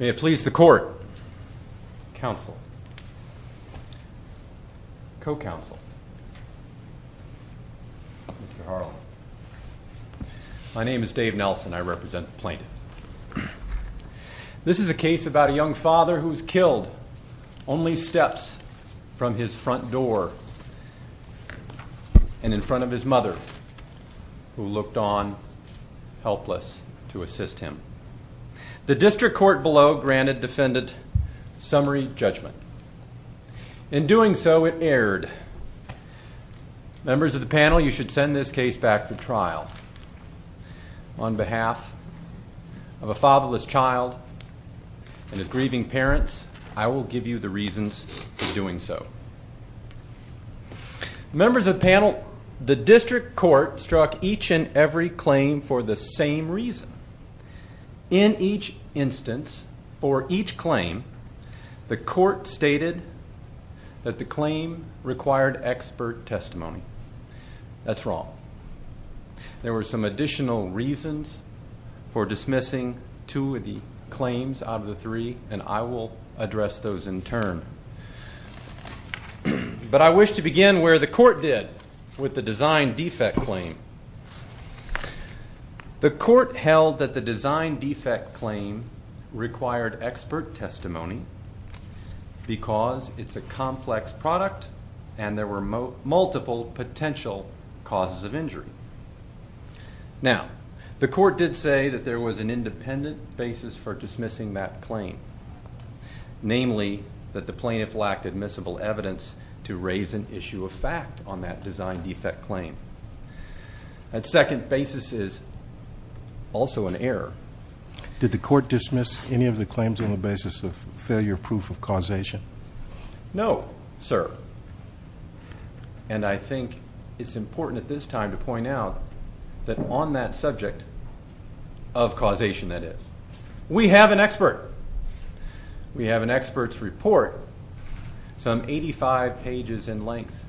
May it please the court, counsel, co-counsel, Mr. Harlan, my name is Dave Nelson, I represent This is a case about a young father who was killed only steps from his front door and in front of his mother who looked on helpless to assist him. The district court below granted defendant summary judgment. In doing so, it erred. Members of the panel, you should send this case back to trial. On behalf of a fatherless child and his grieving parents, I will give you the reasons for doing so. Members of the panel, the district court struck each and every claim for the same reason. In each instance, for each claim, the court stated that the claim required expert testimony. That's wrong. There were some additional reasons for dismissing two of the claims out of the three, and I will address those in turn. But I wish to begin where the court did with the design defect claim. The court held that the design defect claim required expert testimony because it's a complex product and there were multiple potential causes of injury. Now, the court did say that there was an independent basis for dismissing that claim. Namely, that the plaintiff lacked admissible evidence to raise an issue of fact on that design defect claim. That second basis is also an error. Did the court dismiss any of the claims on the basis of failure proof of causation? No, sir. And I think it's important at this time to point out that on that subject of causation, that is, we have an expert. We have an expert's report, some 85 pages in length,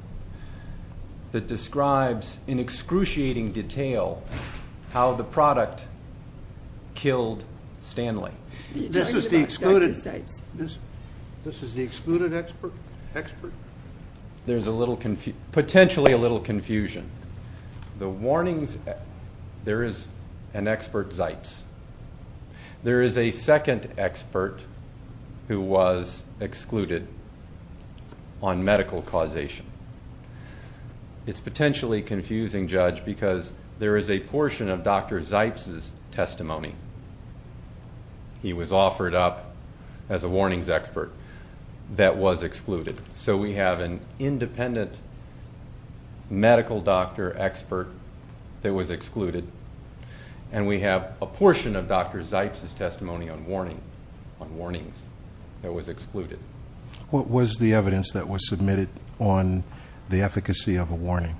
that describes in excruciating detail how the product killed Stanley. This is the excluded expert? There's potentially a little confusion. The warnings, there is an expert, Zipes. There is a second expert who was excluded on medical causation. It's potentially confusing, Judge, because there is a portion of Dr. Zipes' testimony, he was offered up as a warnings expert, that was excluded. So we have an independent medical doctor expert that was excluded. And we have a portion of Dr. Zipes' testimony on warnings that was excluded. What was the evidence that was submitted on the efficacy of a warning?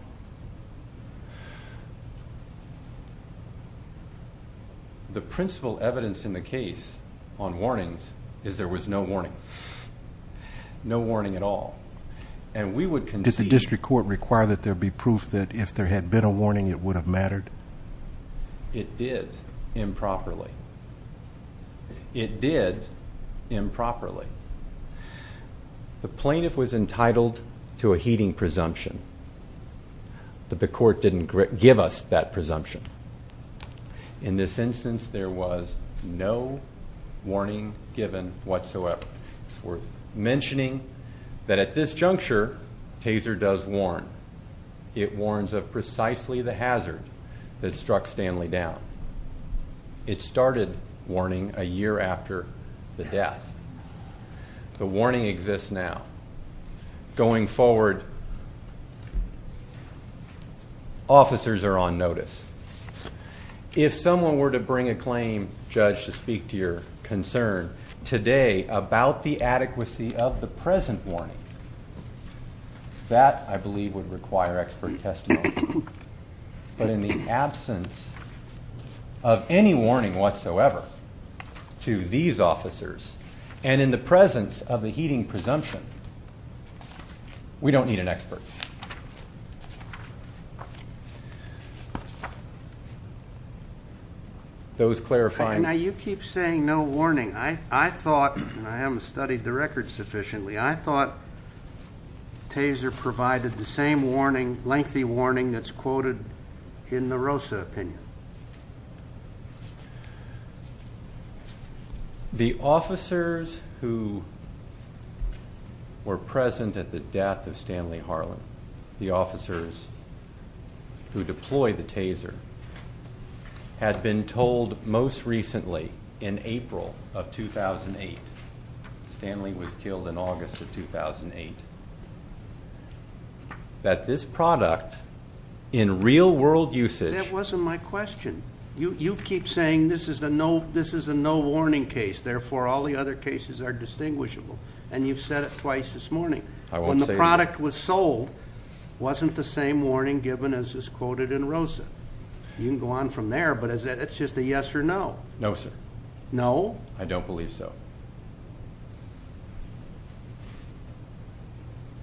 The principal evidence in the case on warnings is there was no warning. No warning at all. And we would concede... Did the district court require that there be proof that if there had been a warning, it would have mattered? It did improperly. It did improperly. The plaintiff was entitled to a heeding presumption, but the court didn't give us that presumption. In this instance, there was no warning given whatsoever. It's worth mentioning that at this juncture, Taser does warn. It warns of precisely the hazard that struck Stanley down. It started warning a year after the death. The warning exists now. Going forward, officers are on notice. If someone were to bring a claim, Judge, to speak to your concern today about the adequacy of the present warning, that, I believe, would require expert testimony. But in the absence of any warning whatsoever to these officers, and in the presence of a heeding presumption, we don't need an expert. Those clarifying... Now, you keep saying no warning. I thought, and I haven't studied the record sufficiently, I thought Taser provided the same warning, lengthy warning, that's quoted in the Rosa opinion. The officers who were present at the death of Stanley Harlan, the officers who deployed the Taser, had been told most recently in April of 2008, Stanley was killed in August of 2008, that this product in real world usage... That wasn't my question. You keep saying this is a no warning case, therefore all the other cases are distinguishable, and you've said it twice this morning. I won't say it again. When the product was sold, it wasn't the same warning given as is quoted in Rosa. You can go on from there, but it's just a yes or no. No, sir. No? I don't believe so.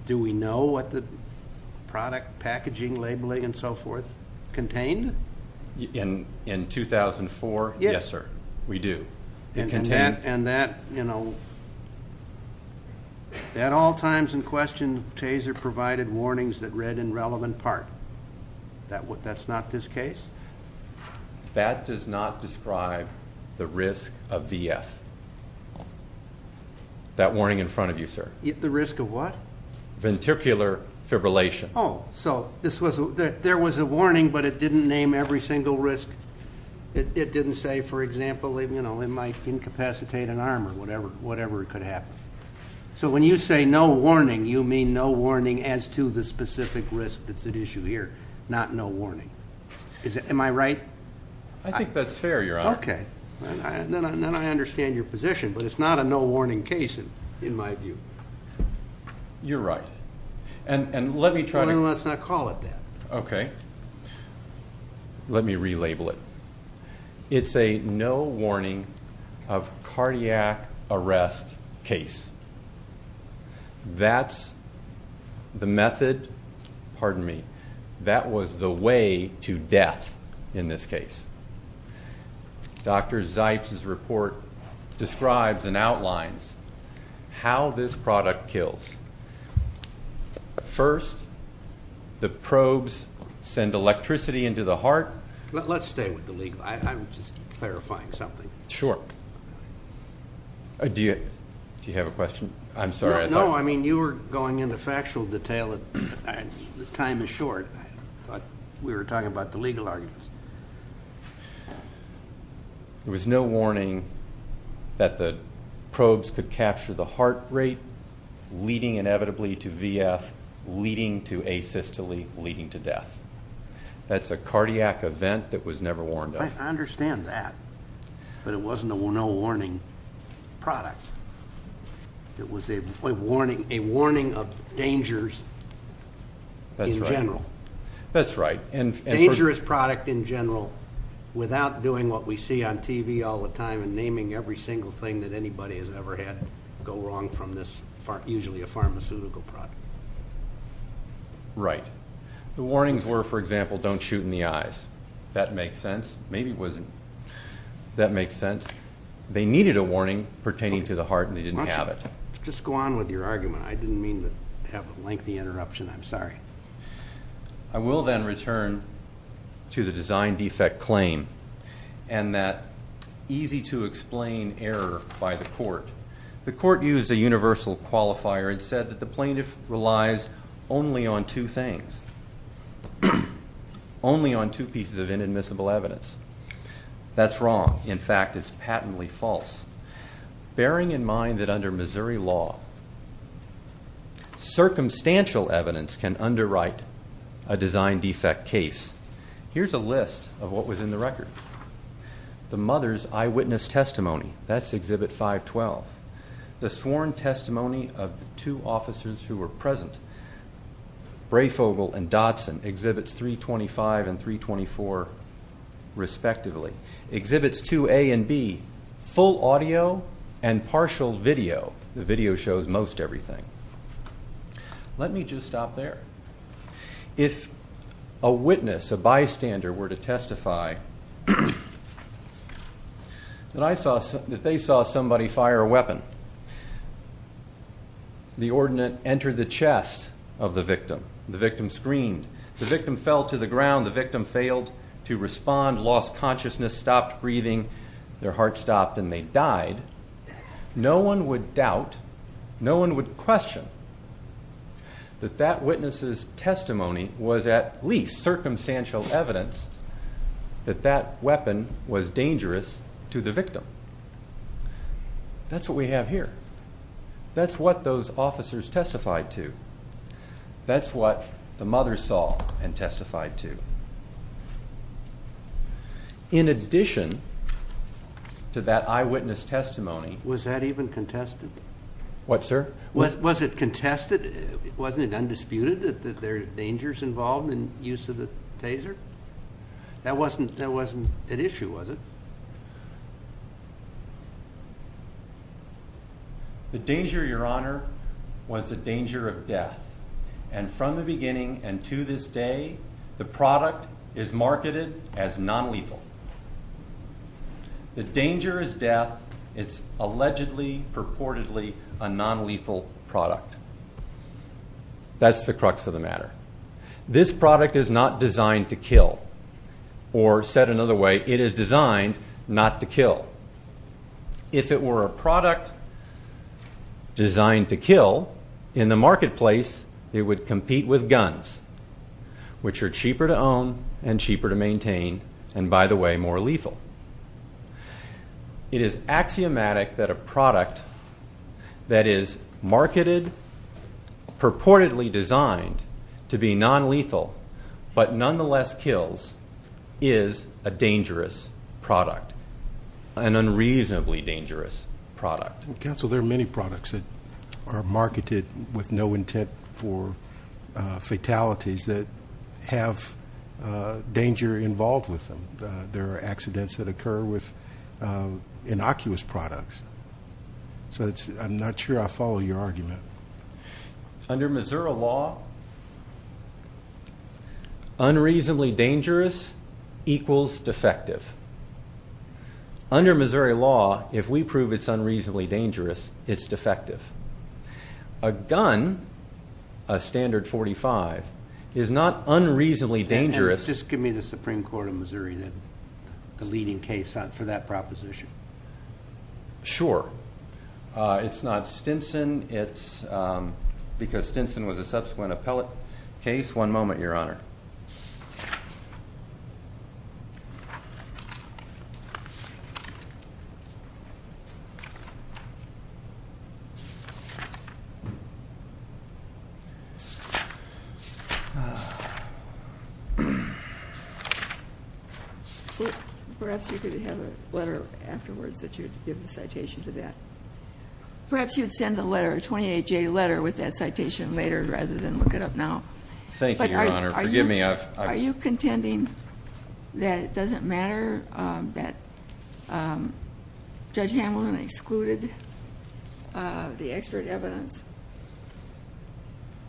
Do we know what the product packaging, labeling, and so forth contained? In 2004? Yes, sir. We do. It contained... And that at all times in question, Taser provided warnings that read in relevant part. That's not this case? That does not describe the risk of VF, that warning in front of you, sir. The risk of what? Ventricular fibrillation. Oh, so there was a warning, but it didn't name every single risk. It didn't say, for example, it might incapacitate an arm or whatever could happen. So when you say no warning, you mean no warning as to the specific risk that's at issue here, not no warning. Am I right? I think that's fair, Your Honor. Okay. Then I understand your position, but it's not a no warning case in my view. You're right. And let me try to... Well, then let's not call it that. Okay. Let me relabel it. It's a no warning of cardiac arrest case. That's the method. Pardon me. That was the way to death in this case. Dr. Zipes' report describes and outlines how this product kills. First, the probes send electricity into the heart. Let's stay with the legal. I'm just clarifying something. Sure. Do you have a question? I'm sorry. No, I mean you were going into factual detail. Time is short. We were talking about the legal arguments. There was no warning that the probes could capture the heart rate, leading inevitably to VF, leading to asystole, leading to death. That's a cardiac event that was never warned of. I understand that. But it wasn't a no warning product. It was a warning of dangers in general. That's right. Dangerous product in general without doing what we see on TV all the time and naming every single thing that anybody has ever had go wrong from this, usually a pharmaceutical product. Right. The warnings were, for example, don't shoot in the eyes. That makes sense. Maybe it wasn't. That makes sense. They needed a warning pertaining to the heart and they didn't have it. Just go on with your argument. I didn't mean to have a lengthy interruption. I'm sorry. I will then return to the design defect claim and that easy to explain error by the court. The court used a universal qualifier and said that the plaintiff relies only on two things, only on two pieces of inadmissible evidence. That's wrong. In fact, it's patently false. Bearing in mind that under Missouri law, circumstantial evidence can underwrite a design defect case, here's a list of what was in the record. The mother's eyewitness testimony, that's Exhibit 512. The sworn testimony of the two officers who were present, Brayfogle and Dodson, Exhibits 325 and 324, respectively. Exhibits 2A and B, full audio and partial video. The video shows most everything. Let me just stop there. If a witness, a bystander, were to testify that they saw somebody fire a weapon, the ordnance entered the chest of the victim, the victim screamed, the victim fell to the ground, the victim failed to respond, lost consciousness, stopped breathing, their heart stopped, and they died, no one would doubt, no one would question, that that witness's testimony was at least circumstantial evidence that that weapon was dangerous to the victim. That's what we have here. That's what those officers testified to. That's what the mother saw and testified to. In addition to that eyewitness testimony. Was that even contested? What, sir? Was it contested? Wasn't it undisputed that there are dangers involved in use of the taser? That wasn't at issue, was it? The danger, Your Honor, was the danger of death. And from the beginning and to this day, the product is marketed as nonlethal. The danger is death. It's allegedly, purportedly a nonlethal product. That's the crux of the matter. This product is not designed to kill. Or said another way, it is designed not to kill. If it were a product designed to kill, in the marketplace it would compete with guns, which are cheaper to own and cheaper to maintain and, by the way, more lethal. It is axiomatic that a product that is marketed, purportedly designed to be nonlethal, but nonetheless kills, is a dangerous product, an unreasonably dangerous product. Counsel, there are many products that are marketed with no intent for fatalities that have danger involved with them. There are accidents that occur with innocuous products. Under Missouri law, unreasonably dangerous equals defective. Under Missouri law, if we prove it's unreasonably dangerous, it's defective. A gun, a standard .45, is not unreasonably dangerous. Just give me the Supreme Court of Missouri, the leading case for that proposition. Sure. It's not Stinson. It's because Stinson was a subsequent appellate case. One moment, Your Honor. Perhaps you could have a letter afterwards that you would give the citation to that. Perhaps you would send a letter, a 28-J letter, with that citation later rather than look it up now. Your Honor, forgive me. Are you contending that it doesn't matter that Judge Hamilton excluded the expert evidence?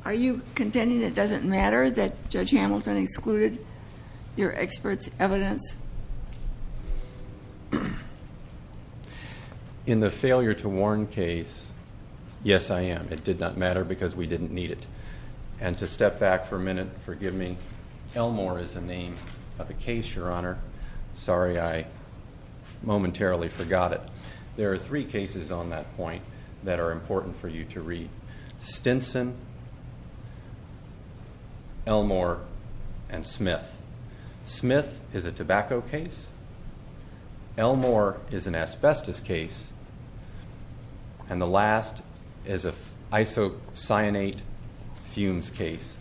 Are you contending it doesn't matter that Judge Hamilton excluded your expert's evidence? In the failure to warn case, yes, I am. It did not matter because we didn't need it. And to step back for a minute, forgive me. Elmore is the name of the case, Your Honor. Sorry, I momentarily forgot it. There are three cases on that point that are important for you to read. Stinson, Elmore, and Smith. Smith is a tobacco case. Elmore is an asbestos case. And the last is an isocyanate fumes case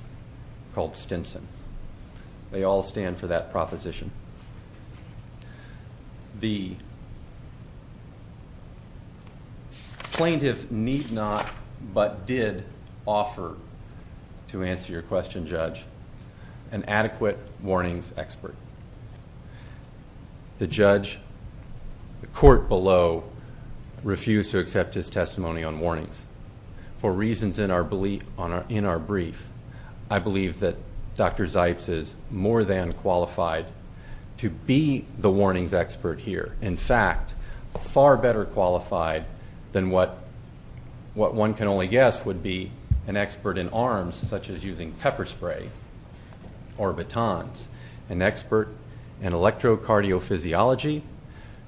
called Stinson. They all stand for that proposition. The plaintiff need not but did offer, to answer your question, Judge, an adequate warnings expert. The judge, the court below, refused to accept his testimony on warnings. For reasons in our brief, I believe that Dr. Zipes is more than qualified to be the warnings expert here. In fact, far better qualified than what one can only guess would be an expert in arms, such as using pepper spray or batons. An expert in electrocardiophysiology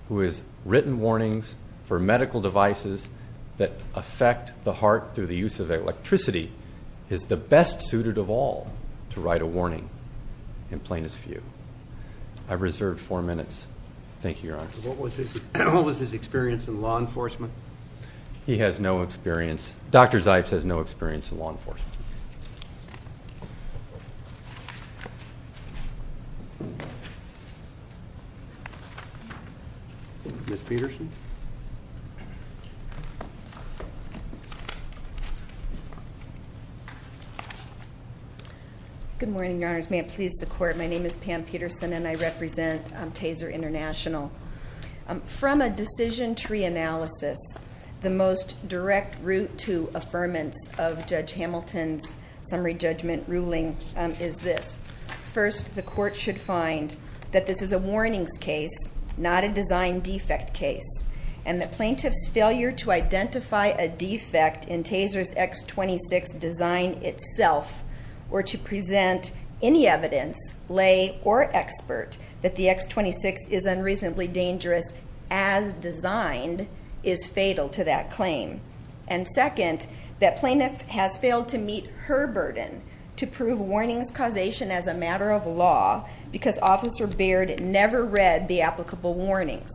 who has written warnings for medical devices that affect the heart through the use of electricity is the best suited of all to write a warning in plainest view. I've reserved four minutes. Thank you, Your Honor. What was his experience in law enforcement? He has no experience. Dr. Zipes has no experience in law enforcement. Ms. Peterson? Good morning, Your Honors. May it please the Court, my name is Pam Peterson, and I represent Taser International. From a decision tree analysis, the most direct route to affirmance of Judge Hamilton's summary judgment ruling is this. First, the court should find that this is a warnings case, not a design defect case, and that plaintiff's failure to identify a defect in Taser's X26 design itself or to present any evidence, lay or expert, that the X26 is unreasonably dangerous as designed is fatal to that claim. And second, that plaintiff has failed to meet her burden to prove warnings causation as a matter of law because Officer Baird never read the applicable warnings.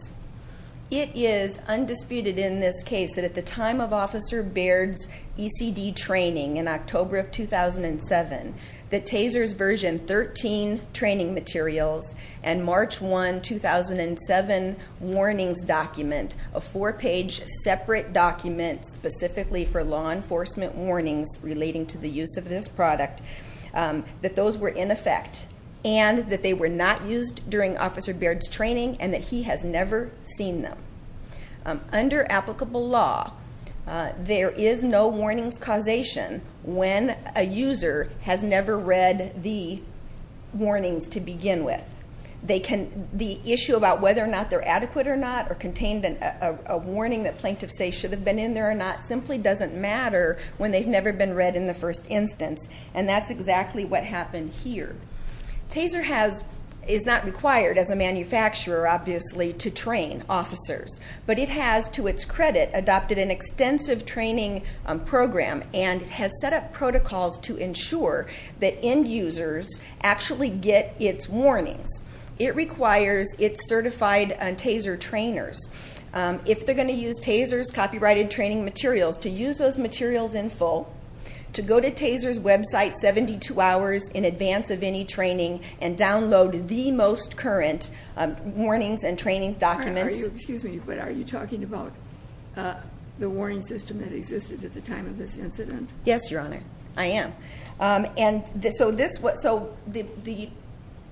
It is undisputed in this case that at the time of Officer Baird's ECD training in October of 2007, that Taser's version 13 training materials and March 1, 2007, warnings document, a four-page separate document specifically for law enforcement warnings relating to the use of this product, that those were in effect and that they were not used during Officer Baird's training and that he has never seen them. Under applicable law, there is no warnings causation when a user has never read the warnings to begin with. The issue about whether or not they're adequate or not or contained a warning that plaintiffs say should have been in there or not simply doesn't matter when they've never been read in the first instance, and that's exactly what happened here. Taser is not required as a manufacturer, obviously, to train officers, but it has, to its credit, adopted an extensive training program and has set up protocols to ensure that end users actually get its warnings. It requires its certified Taser trainers. If they're going to use Taser's copyrighted training materials, to use those materials in full, to go to Taser's website 72 hours in advance of any training and download the most current warnings and trainings documents. Excuse me, but are you talking about the warning system that existed at the time of this incident? Yes, Your Honor, I am. And so the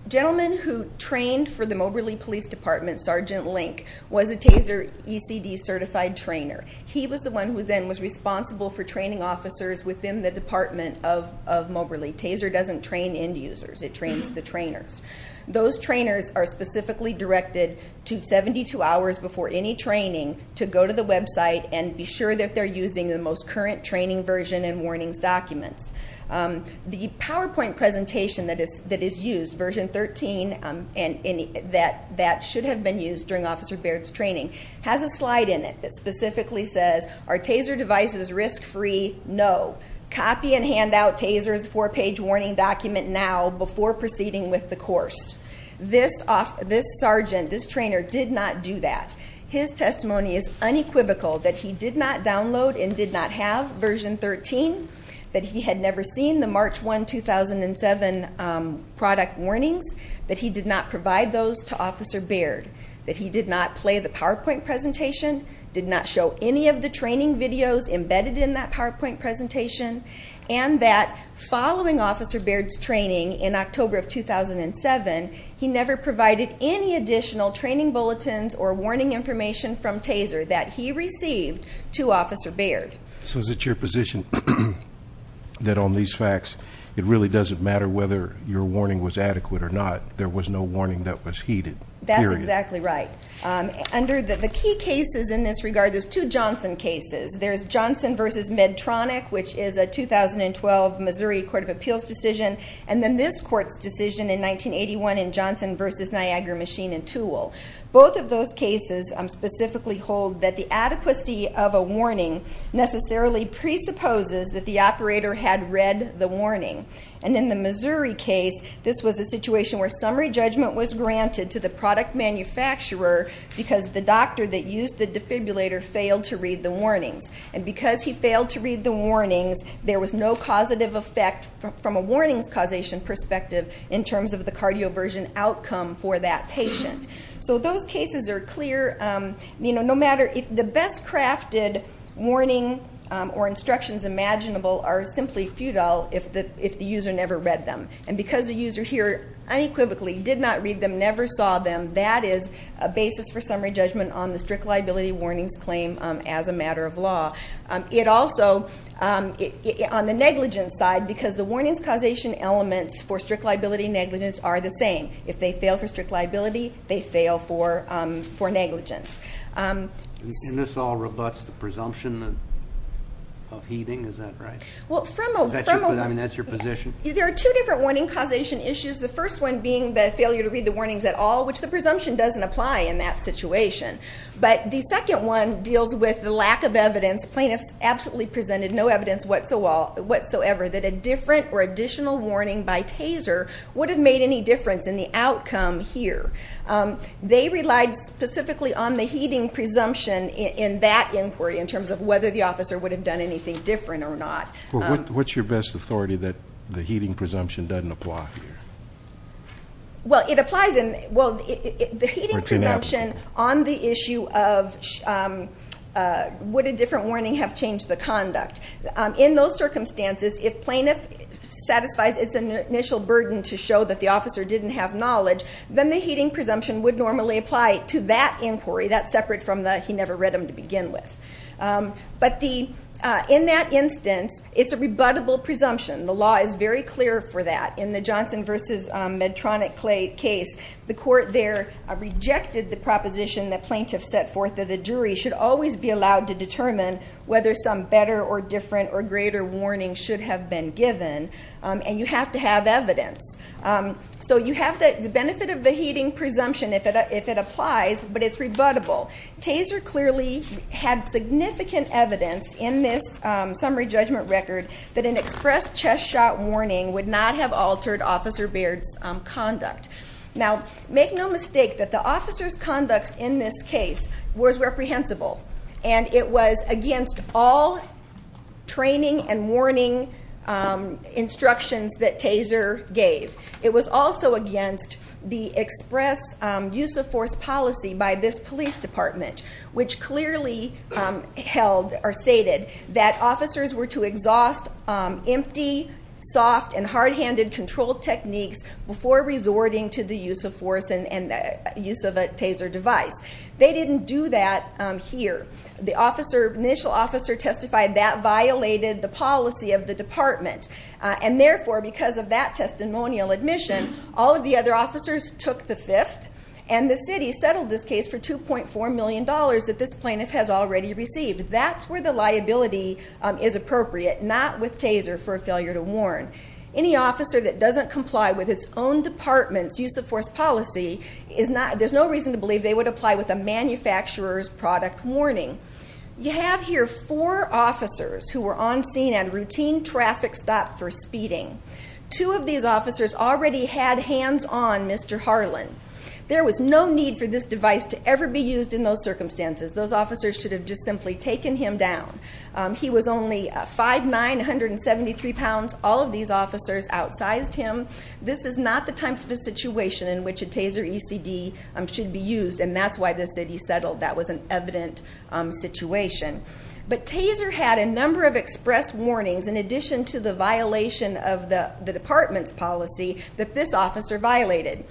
gentleman who trained for the Moberly Police Department, Sergeant Link, was a Taser ECD certified trainer. He was the one who then was responsible for training officers within the Department of Moberly. Taser doesn't train end users. It trains the trainers. Those trainers are specifically directed to 72 hours before any training to go to the website and be sure that they're using the most current training version and warnings documents. The PowerPoint presentation that is used, version 13, that should have been used during Officer Baird's training, has a slide in it that specifically says, are Taser devices risk-free? No. Copy and hand out Taser's four-page warning document now before proceeding with the course. This sergeant, this trainer, did not do that. His testimony is unequivocal that he did not download and did not have version 13, that he had never seen the March 1, 2007 product warnings, that he did not provide those to Officer Baird, that he did not play the PowerPoint presentation, did not show any of the training videos embedded in that PowerPoint presentation, and that following Officer Baird's training in October of 2007, he never provided any additional training bulletins or warning information from Taser that he received to Officer Baird. So is it your position that on these facts, it really doesn't matter whether your warning was adequate or not, there was no warning that was heeded, period? That's exactly right. Under the key cases in this regard, there's two Johnson cases. There's Johnson v. Medtronic, which is a 2012 Missouri Court of Appeals decision, and then this court's decision in 1981 in Johnson v. Niagara Machine and Tool. Both of those cases specifically hold that the adequacy of a warning necessarily presupposes that the operator had read the warning. And in the Missouri case, this was a situation where summary judgment was granted to the product manufacturer because the doctor that used the defibrillator failed to read the warnings. And because he failed to read the warnings, there was no causative effect from a warnings causation perspective in terms of the cardioversion outcome for that patient. So those cases are clear. The best crafted warning or instructions imaginable are simply futile if the user never read them. And because the user here unequivocally did not read them, never saw them, that is a basis for summary judgment on the strict liability warnings claim as a matter of law. It also, on the negligence side, because the warnings causation elements for strict liability negligence are the same. If they fail for strict liability, they fail for negligence. And this all rebuts the presumption of heeding, is that right? I mean, that's your position? There are two different warning causation issues, the first one being the failure to read the warnings at all, which the presumption doesn't apply in that situation. But the second one deals with the lack of evidence. Plaintiffs absolutely presented no evidence whatsoever that a different or additional warning by TASER would have made any difference in the outcome here. They relied specifically on the heeding presumption in that inquiry in terms of whether the officer would have done anything different or not. Well, what's your best authority that the heeding presumption doesn't apply here? Well, it applies in, well, the heeding presumption on the issue of would a different warning have changed the conduct? In those circumstances, if plaintiff satisfies its initial burden to show that the officer didn't have knowledge, then the heeding presumption would normally apply to that inquiry, that's separate from the he never read them to begin with. But in that instance, it's a rebuttable presumption. The law is very clear for that. In the Johnson v. Medtronic case, the court there rejected the proposition that plaintiffs set forth that the jury should always be allowed to determine whether some better or different or greater warning should have been given, and you have to have evidence. So you have the benefit of the heeding presumption if it applies, but it's rebuttable. Taser clearly had significant evidence in this summary judgment record that an express chest shot warning would not have altered Officer Baird's conduct. Now, make no mistake that the officer's conduct in this case was reprehensible, and it was against all training and warning instructions that Taser gave. It was also against the express use of force policy by this police department, which clearly held or stated that officers were to exhaust empty, soft, and hard-handed control techniques before resorting to the use of force and the use of a taser device. They didn't do that here. And therefore, because of that testimonial admission, all of the other officers took the fifth, and the city settled this case for $2.4 million that this plaintiff has already received. That's where the liability is appropriate, not with Taser for a failure to warn. Any officer that doesn't comply with its own department's use of force policy, there's no reason to believe they would apply with a manufacturer's product warning. You have here four officers who were on scene at a routine traffic stop for speeding. Two of these officers already had hands on Mr. Harlan. There was no need for this device to ever be used in those circumstances. Those officers should have just simply taken him down. He was only 5'9", 173 pounds. All of these officers outsized him. This is not the type of a situation in which a taser ECD should be used, and that's why the city settled. That was an evident situation. But Taser had a number of express warnings in addition to the violation of the department's policy that this officer violated.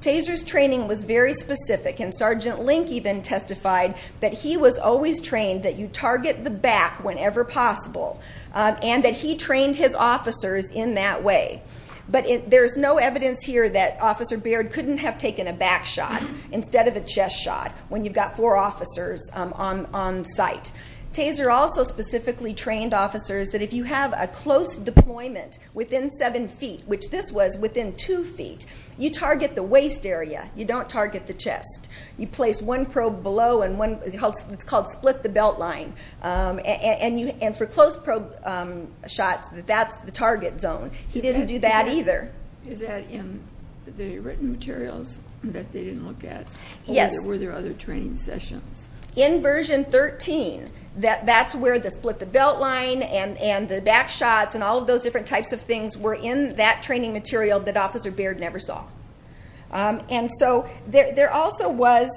Taser's training was very specific, and Sergeant Link even testified that he was always trained that you target the back whenever possible, and that he trained his officers in that way. But there's no evidence here that Officer Baird couldn't have taken a back shot instead of a chest shot when you've got four officers on site. Taser also specifically trained officers that if you have a close deployment within 7 feet, which this was within 2 feet, you target the waist area. You don't target the chest. You place one probe below, and it's called split the belt line. And for close probe shots, that's the target zone. He didn't do that either. Is that in the written materials that they didn't look at? Yes. Or were there other training sessions? In version 13, that's where the split the belt line and the back shots and all of those different types of things were in that training material that Officer Baird never saw. And so there also was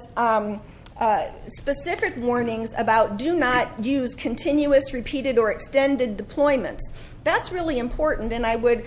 specific warnings about do not use continuous, repeated, or extended deployments. That's really important, and I would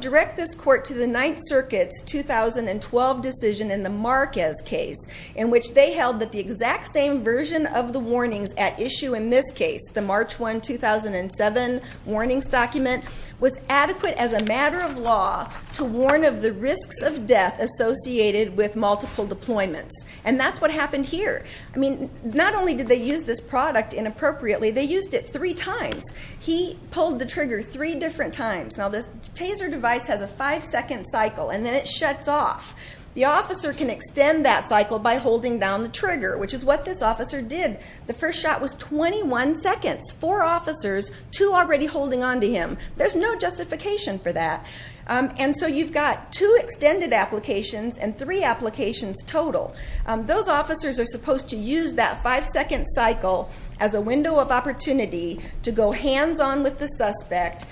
direct this court to the Ninth Circuit's 2012 decision in the Marquez case in which they held that the exact same version of the warnings at issue in this case, the March 1, 2007 warnings document, was adequate as a matter of law to warn of the risks of death associated with multiple deployments. And that's what happened here. I mean, not only did they use this product inappropriately, they used it three times. He pulled the trigger three different times. Now, the TASER device has a five-second cycle, and then it shuts off. The officer can extend that cycle by holding down the trigger, which is what this officer did. The first shot was 21 seconds. Four officers, two already holding on to him. There's no justification for that. And so you've got two extended applications and three applications total. Those officers are supposed to use that five-second cycle as a window of opportunity to go hands-on with the suspect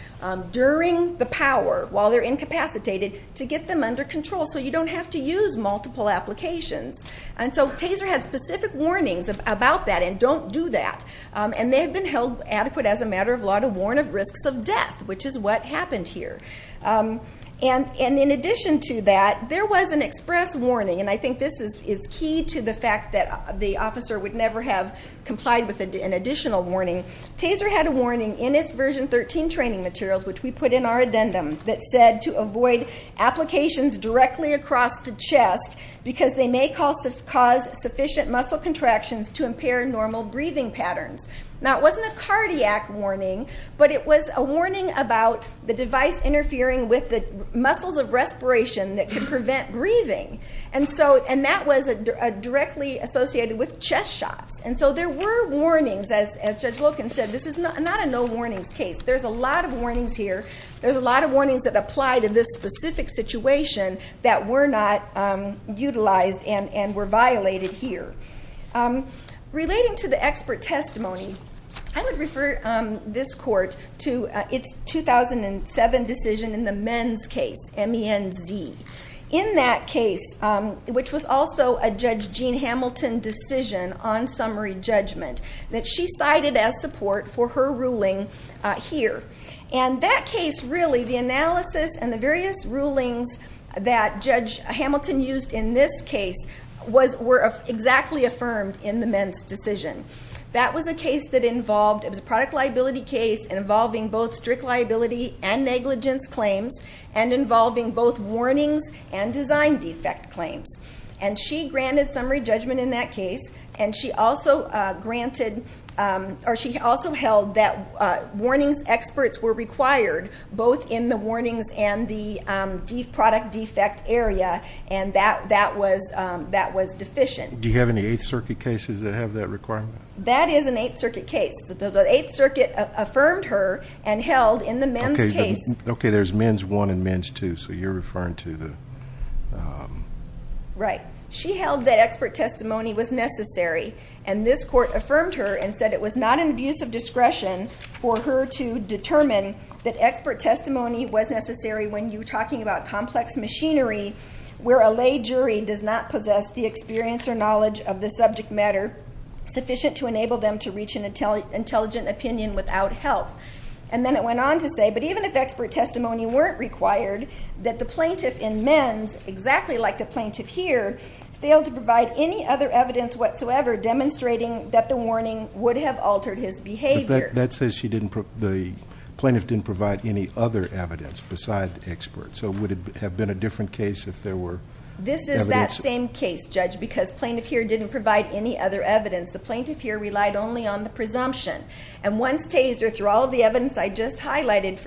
during the power while they're incapacitated to get them under control so you don't have to use multiple applications. And so TASER had specific warnings about that and don't do that, and they have been held adequate as a matter of law to warn of risks of death, which is what happened here. And in addition to that, there was an express warning, and I think this is key to the fact that the officer would never have complied with an additional warning. TASER had a warning in its Version 13 training materials, which we put in our addendum, that said to avoid applications directly across the chest because they may cause sufficient muscle contractions to impair normal breathing patterns. Now, it wasn't a cardiac warning, but it was a warning about the device interfering with the muscles of respiration that can prevent breathing, and that was directly associated with chest shots. And so there were warnings, as Judge Loken said. This is not a no-warnings case. There's a lot of warnings here. There's a lot of warnings that apply to this specific situation that were not utilized and were violated here. Relating to the expert testimony, I would refer this Court to its 2007 decision in the men's case, MENZ. In that case, which was also a Judge Jean Hamilton decision on summary judgment, that she cited as support for her ruling here. And that case, really, the analysis and the various rulings that Judge Hamilton used in this case were exactly affirmed in the MENZ decision. That was a product liability case involving both strict liability and negligence claims and involving both warnings and design defect claims. And she granted summary judgment in that case, and she also held that warnings experts were required both in the warnings and the product defect area, and that was deficient. Do you have any Eighth Circuit cases that have that requirement? That is an Eighth Circuit case. The Eighth Circuit affirmed her and held in the MENZ case. Okay, there's MENZ I and MENZ II, so you're referring to the... Right. She held that expert testimony was necessary, and this Court affirmed her and said it was not an abuse of discretion for her to determine that expert testimony was necessary when you're talking about complex machinery where a lay jury does not possess the experience or knowledge of the subject matter sufficient to enable them to reach an intelligent opinion without help. And then it went on to say, but even if expert testimony weren't required, that the plaintiff in MENZ, exactly like the plaintiff here, failed to provide any other evidence whatsoever demonstrating that the warning would have altered his behavior. But that says the plaintiff didn't provide any other evidence besides expert, so would it have been a different case if there were evidence? This is that same case, Judge, because the plaintiff here didn't provide any other evidence. The plaintiff here relied only on the presumption, and once Taser, through all of the evidence I just highlighted,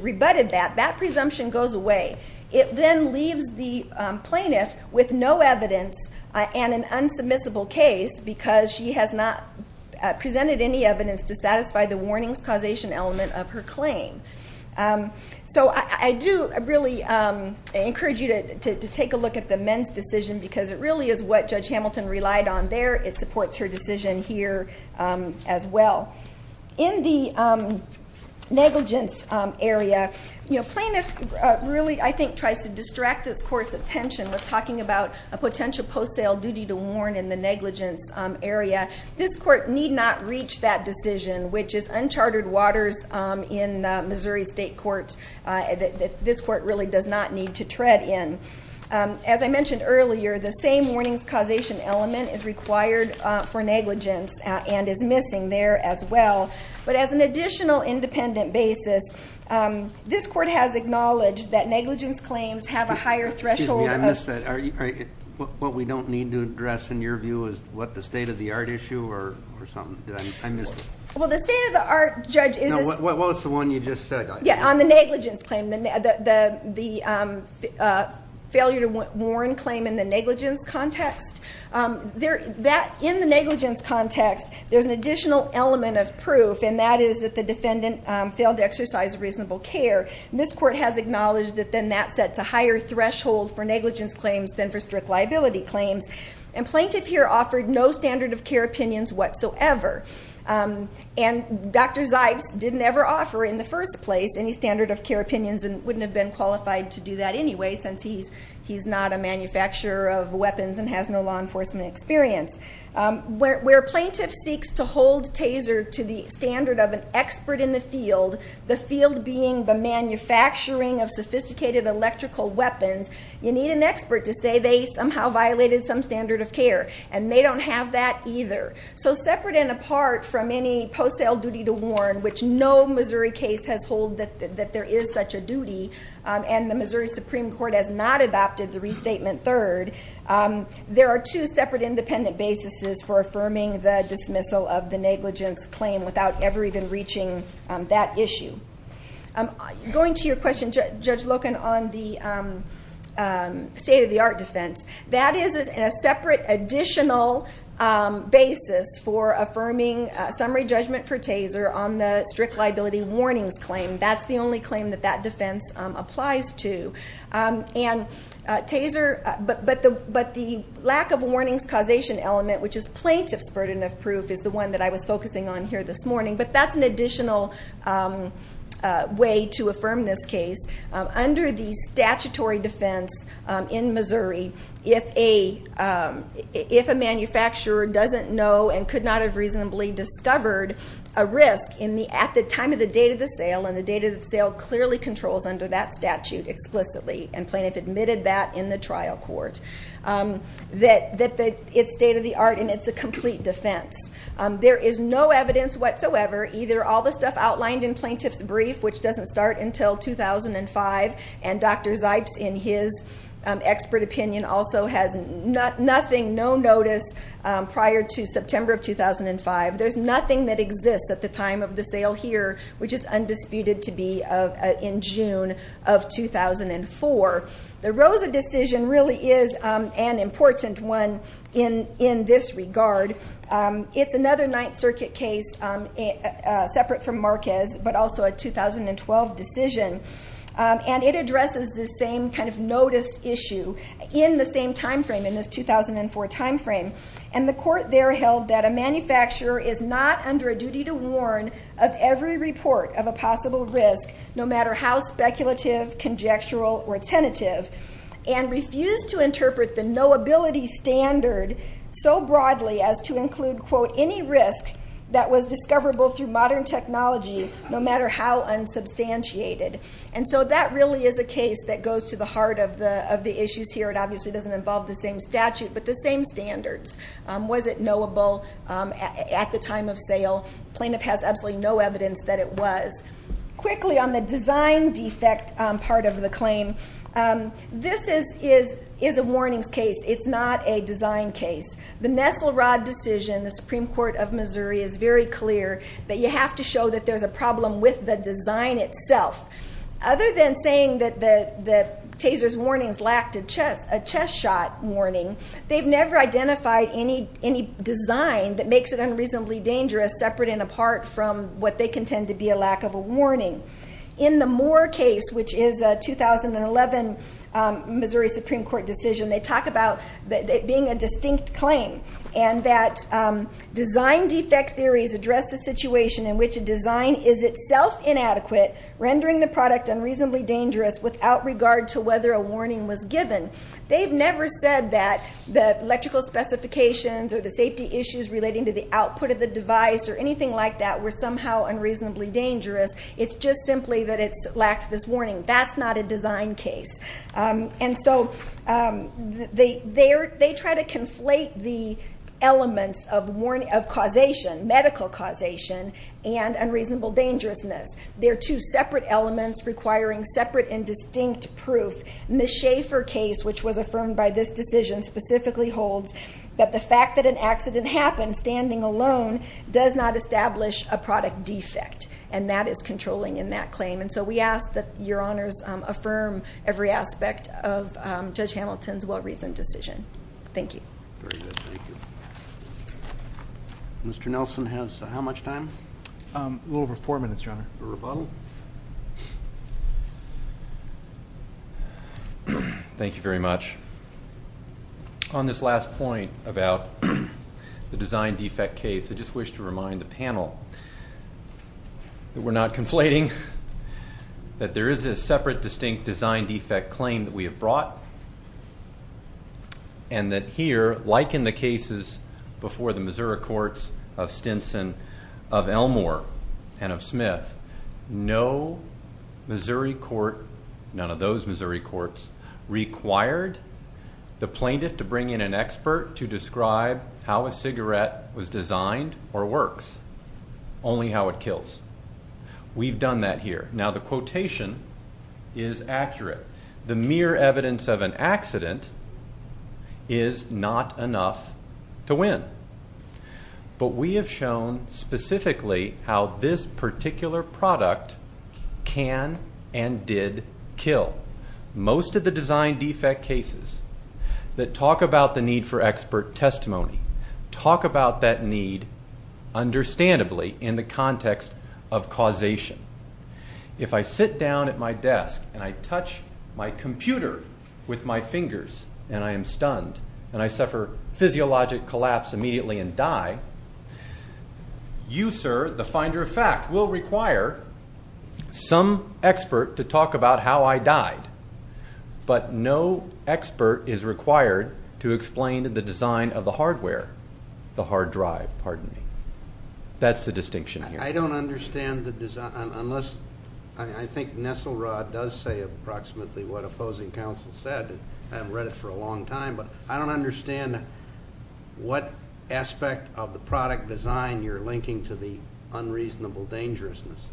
rebutted that, that presumption goes away. It then leaves the plaintiff with no evidence and an unsubmissible case because she has not presented any evidence to satisfy the warnings causation element of her claim. So I do really encourage you to take a look at the MENZ decision because it really is what Judge Hamilton relied on there. It supports her decision here as well. In the negligence area, the plaintiff really, I think, tries to distract this court's attention when talking about a potential post-sale duty to warn in the negligence area. This court need not reach that decision, which is uncharted waters in Missouri State Courts. This court really does not need to tread in. As I mentioned earlier, the same warnings causation element is required for negligence and is missing there as well. But as an additional independent basis, this court has acknowledged that negligence claims have a higher threshold of... Excuse me, I missed that. What we don't need to address, in your view, is what, the state-of-the-art issue or something? I missed it. Well, the state-of-the-art, Judge, is... Well, it's the one you just said. Yeah, on the negligence claim, the failure to warn claim in the negligence context. In the negligence context, there's an additional element of proof, and that is that the defendant failed to exercise reasonable care. This court has acknowledged that then that sets a higher threshold for negligence claims than for strict liability claims. And plaintiff here offered no standard of care opinions whatsoever. And Dr. Zipes didn't ever offer, in the first place, any standard of care opinions and wouldn't have been qualified to do that anyway, since he's not a manufacturer of weapons and has no law enforcement experience. Where a plaintiff seeks to hold TASER to the standard of an expert in the field, the field being the manufacturing of sophisticated electrical weapons, you need an expert to say they somehow violated some standard of care, and they don't have that either. So separate and apart from any post-sale duty to warn, which no Missouri case has hold that there is such a duty, and the Missouri Supreme Court has not adopted the restatement third, there are two separate independent basis for affirming the dismissal of the negligence claim without ever even reaching that issue. Going to your question, Judge Loken, on the state-of-the-art defense, that is a separate additional basis for affirming summary judgment for TASER on the strict liability warnings claim. That's the only claim that that defense applies to. And TASER, but the lack of warnings causation element, which is plaintiff's burden of proof, is the one that I was focusing on here this morning. But that's an additional way to affirm this case. Under the statutory defense in Missouri, if a manufacturer doesn't know and could not have reasonably discovered a risk at the time of the date of the sale, and the date of the sale clearly controls under that statute explicitly, and plaintiff admitted that in the trial court, that it's state-of-the-art and it's a complete defense. There is no evidence whatsoever, either all the stuff outlined in plaintiff's brief, which doesn't start until 2005, and Dr. Zipes, in his expert opinion, also has nothing, no notice prior to September of 2005. There's nothing that exists at the time of the sale here, which is undisputed to be in June of 2004. The Rosa decision really is an important one in this regard. It's another Ninth Circuit case separate from Marquez, but also a 2012 decision. And it addresses the same kind of notice issue in the same time frame, in this 2004 time frame. And the court there held that a manufacturer is not under a duty to warn of every report of a possible risk, no matter how speculative, conjectural, or tentative, and refused to interpret the knowability standard so broadly as to include, quote, any risk that was discoverable through modern technology, no matter how unsubstantiated. And so that really is a case that goes to the heart of the issues here. It obviously doesn't involve the same statute, but the same standards. Was it knowable at the time of sale? The plaintiff has absolutely no evidence that it was. Quickly, on the design defect part of the claim, this is a warnings case. It's not a design case. The Nestle-Rod decision, the Supreme Court of Missouri is very clear that you have to show that there's a problem with the design itself. Other than saying that the taser's warnings lacked a chest shot warning, they've never identified any design that makes it unreasonably dangerous, separate and apart from what they contend to be a lack of a warning. In the Moore case, which is a 2011 Missouri Supreme Court decision, they talk about it being a distinct claim, and that design defect theories address the situation in which a design is itself inadequate, rendering the product unreasonably dangerous without regard to whether a warning was given. They've never said that the electrical specifications or the safety issues relating to the output of the device or anything like that were somehow unreasonably dangerous. It's just simply that it lacked this warning. That's not a design case. And so they try to conflate the elements of causation, medical causation, and unreasonable dangerousness. They're two separate elements requiring separate and distinct proof. The Schaefer case, which was affirmed by this decision, specifically holds that the fact that an accident happened standing alone does not establish a product defect, and that is controlling in that claim. And so we ask that Your Honors affirm every aspect of Judge Hamilton's well-reasoned decision. Thank you. Very good. Thank you. A little over four minutes, Your Honor. A rebuttal? Thank you very much. On this last point about the design defect case, I just wish to remind the panel that we're not conflating, that there is a separate, distinct design defect claim that we have brought, and that here, like in the cases before the Missouri courts of Stinson, of Elmore, and of Smith, no Missouri court, none of those Missouri courts, required the plaintiff to bring in an expert to describe how a cigarette was designed or works, only how it kills. We've done that here. Now, the quotation is accurate. The mere evidence of an accident is not enough to win. But we have shown specifically how this particular product can and did kill. Most of the design defect cases that talk about the need for expert testimony, talk about that need understandably in the context of causation. If I sit down at my desk and I touch my computer with my fingers and I am stunned, and I suffer physiologic collapse immediately and die, you, sir, the finder of fact, will require some expert to talk about how I died. But no expert is required to explain the design of the hardware, the hard drive, pardon me. That's the distinction here. I don't understand the design unless I think Nesselrod does say approximately what opposing counsel said. I haven't read it for a long time. But I don't understand what aspect of the product design you're linking to the unreasonable dangerousness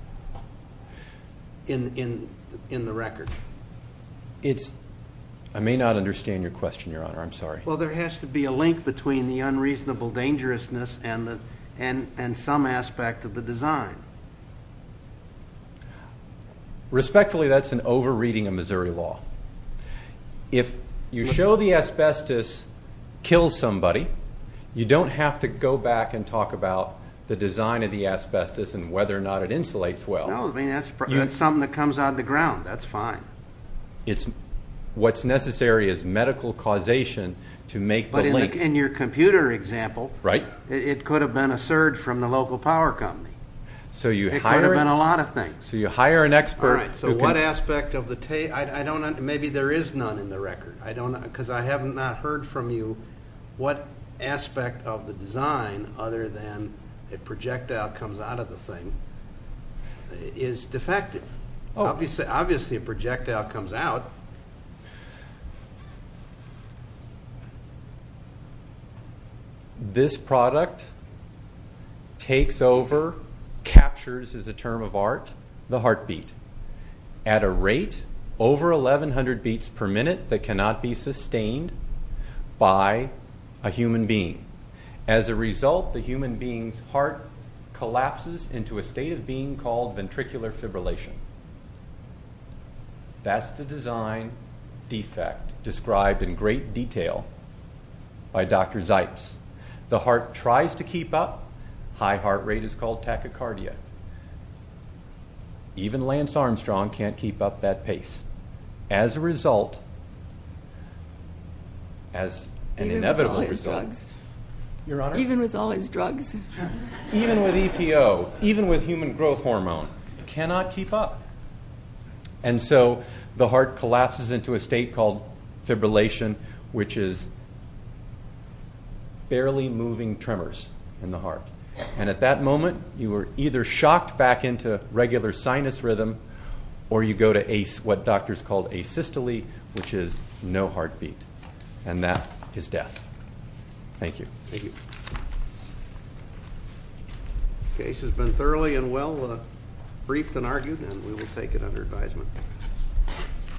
in the record. I may not understand your question, Your Honor. I'm sorry. Well, there has to be a link between the unreasonable dangerousness and some aspect of the design. Respectfully, that's an over-reading of Missouri law. If you show the asbestos kills somebody, you don't have to go back and talk about the design of the asbestos and whether or not it insulates well. No, I mean, that's something that comes out of the ground. That's fine. What's necessary is medical causation to make the link. But in your computer example, it could have been a surge from the local power company. It could have been a lot of things. So you hire an expert. All right, so what aspect of the tape? Maybe there is none in the record. Because I have not heard from you what aspect of the design, other than a projectile comes out of the thing, is defective. Obviously, a projectile comes out. This product takes over, captures is a term of art, the heartbeat, at a rate over 1,100 beats per minute that cannot be sustained by a human being. As a result, the human being's heart collapses into a state of being called ventricular fibrillation. That's the design defect described in great detail by Dr. Zipes. The heart tries to keep up. High heart rate is called tachycardia. Even Lance Armstrong can't keep up that pace. As a result, as an inevitable result. Even with all his drugs. Your Honor? Even with all his drugs. Even with EPO. Even with human growth hormone. Cannot keep up. And so the heart collapses into a state called fibrillation, which is barely moving tremors in the heart. And at that moment, you are either shocked back into regular sinus rhythm or you go to what doctors call asystole, which is no heartbeat. And that is death. Thank you. Thank you. The case has been thoroughly and well briefed and argued, and we will take it under advisement.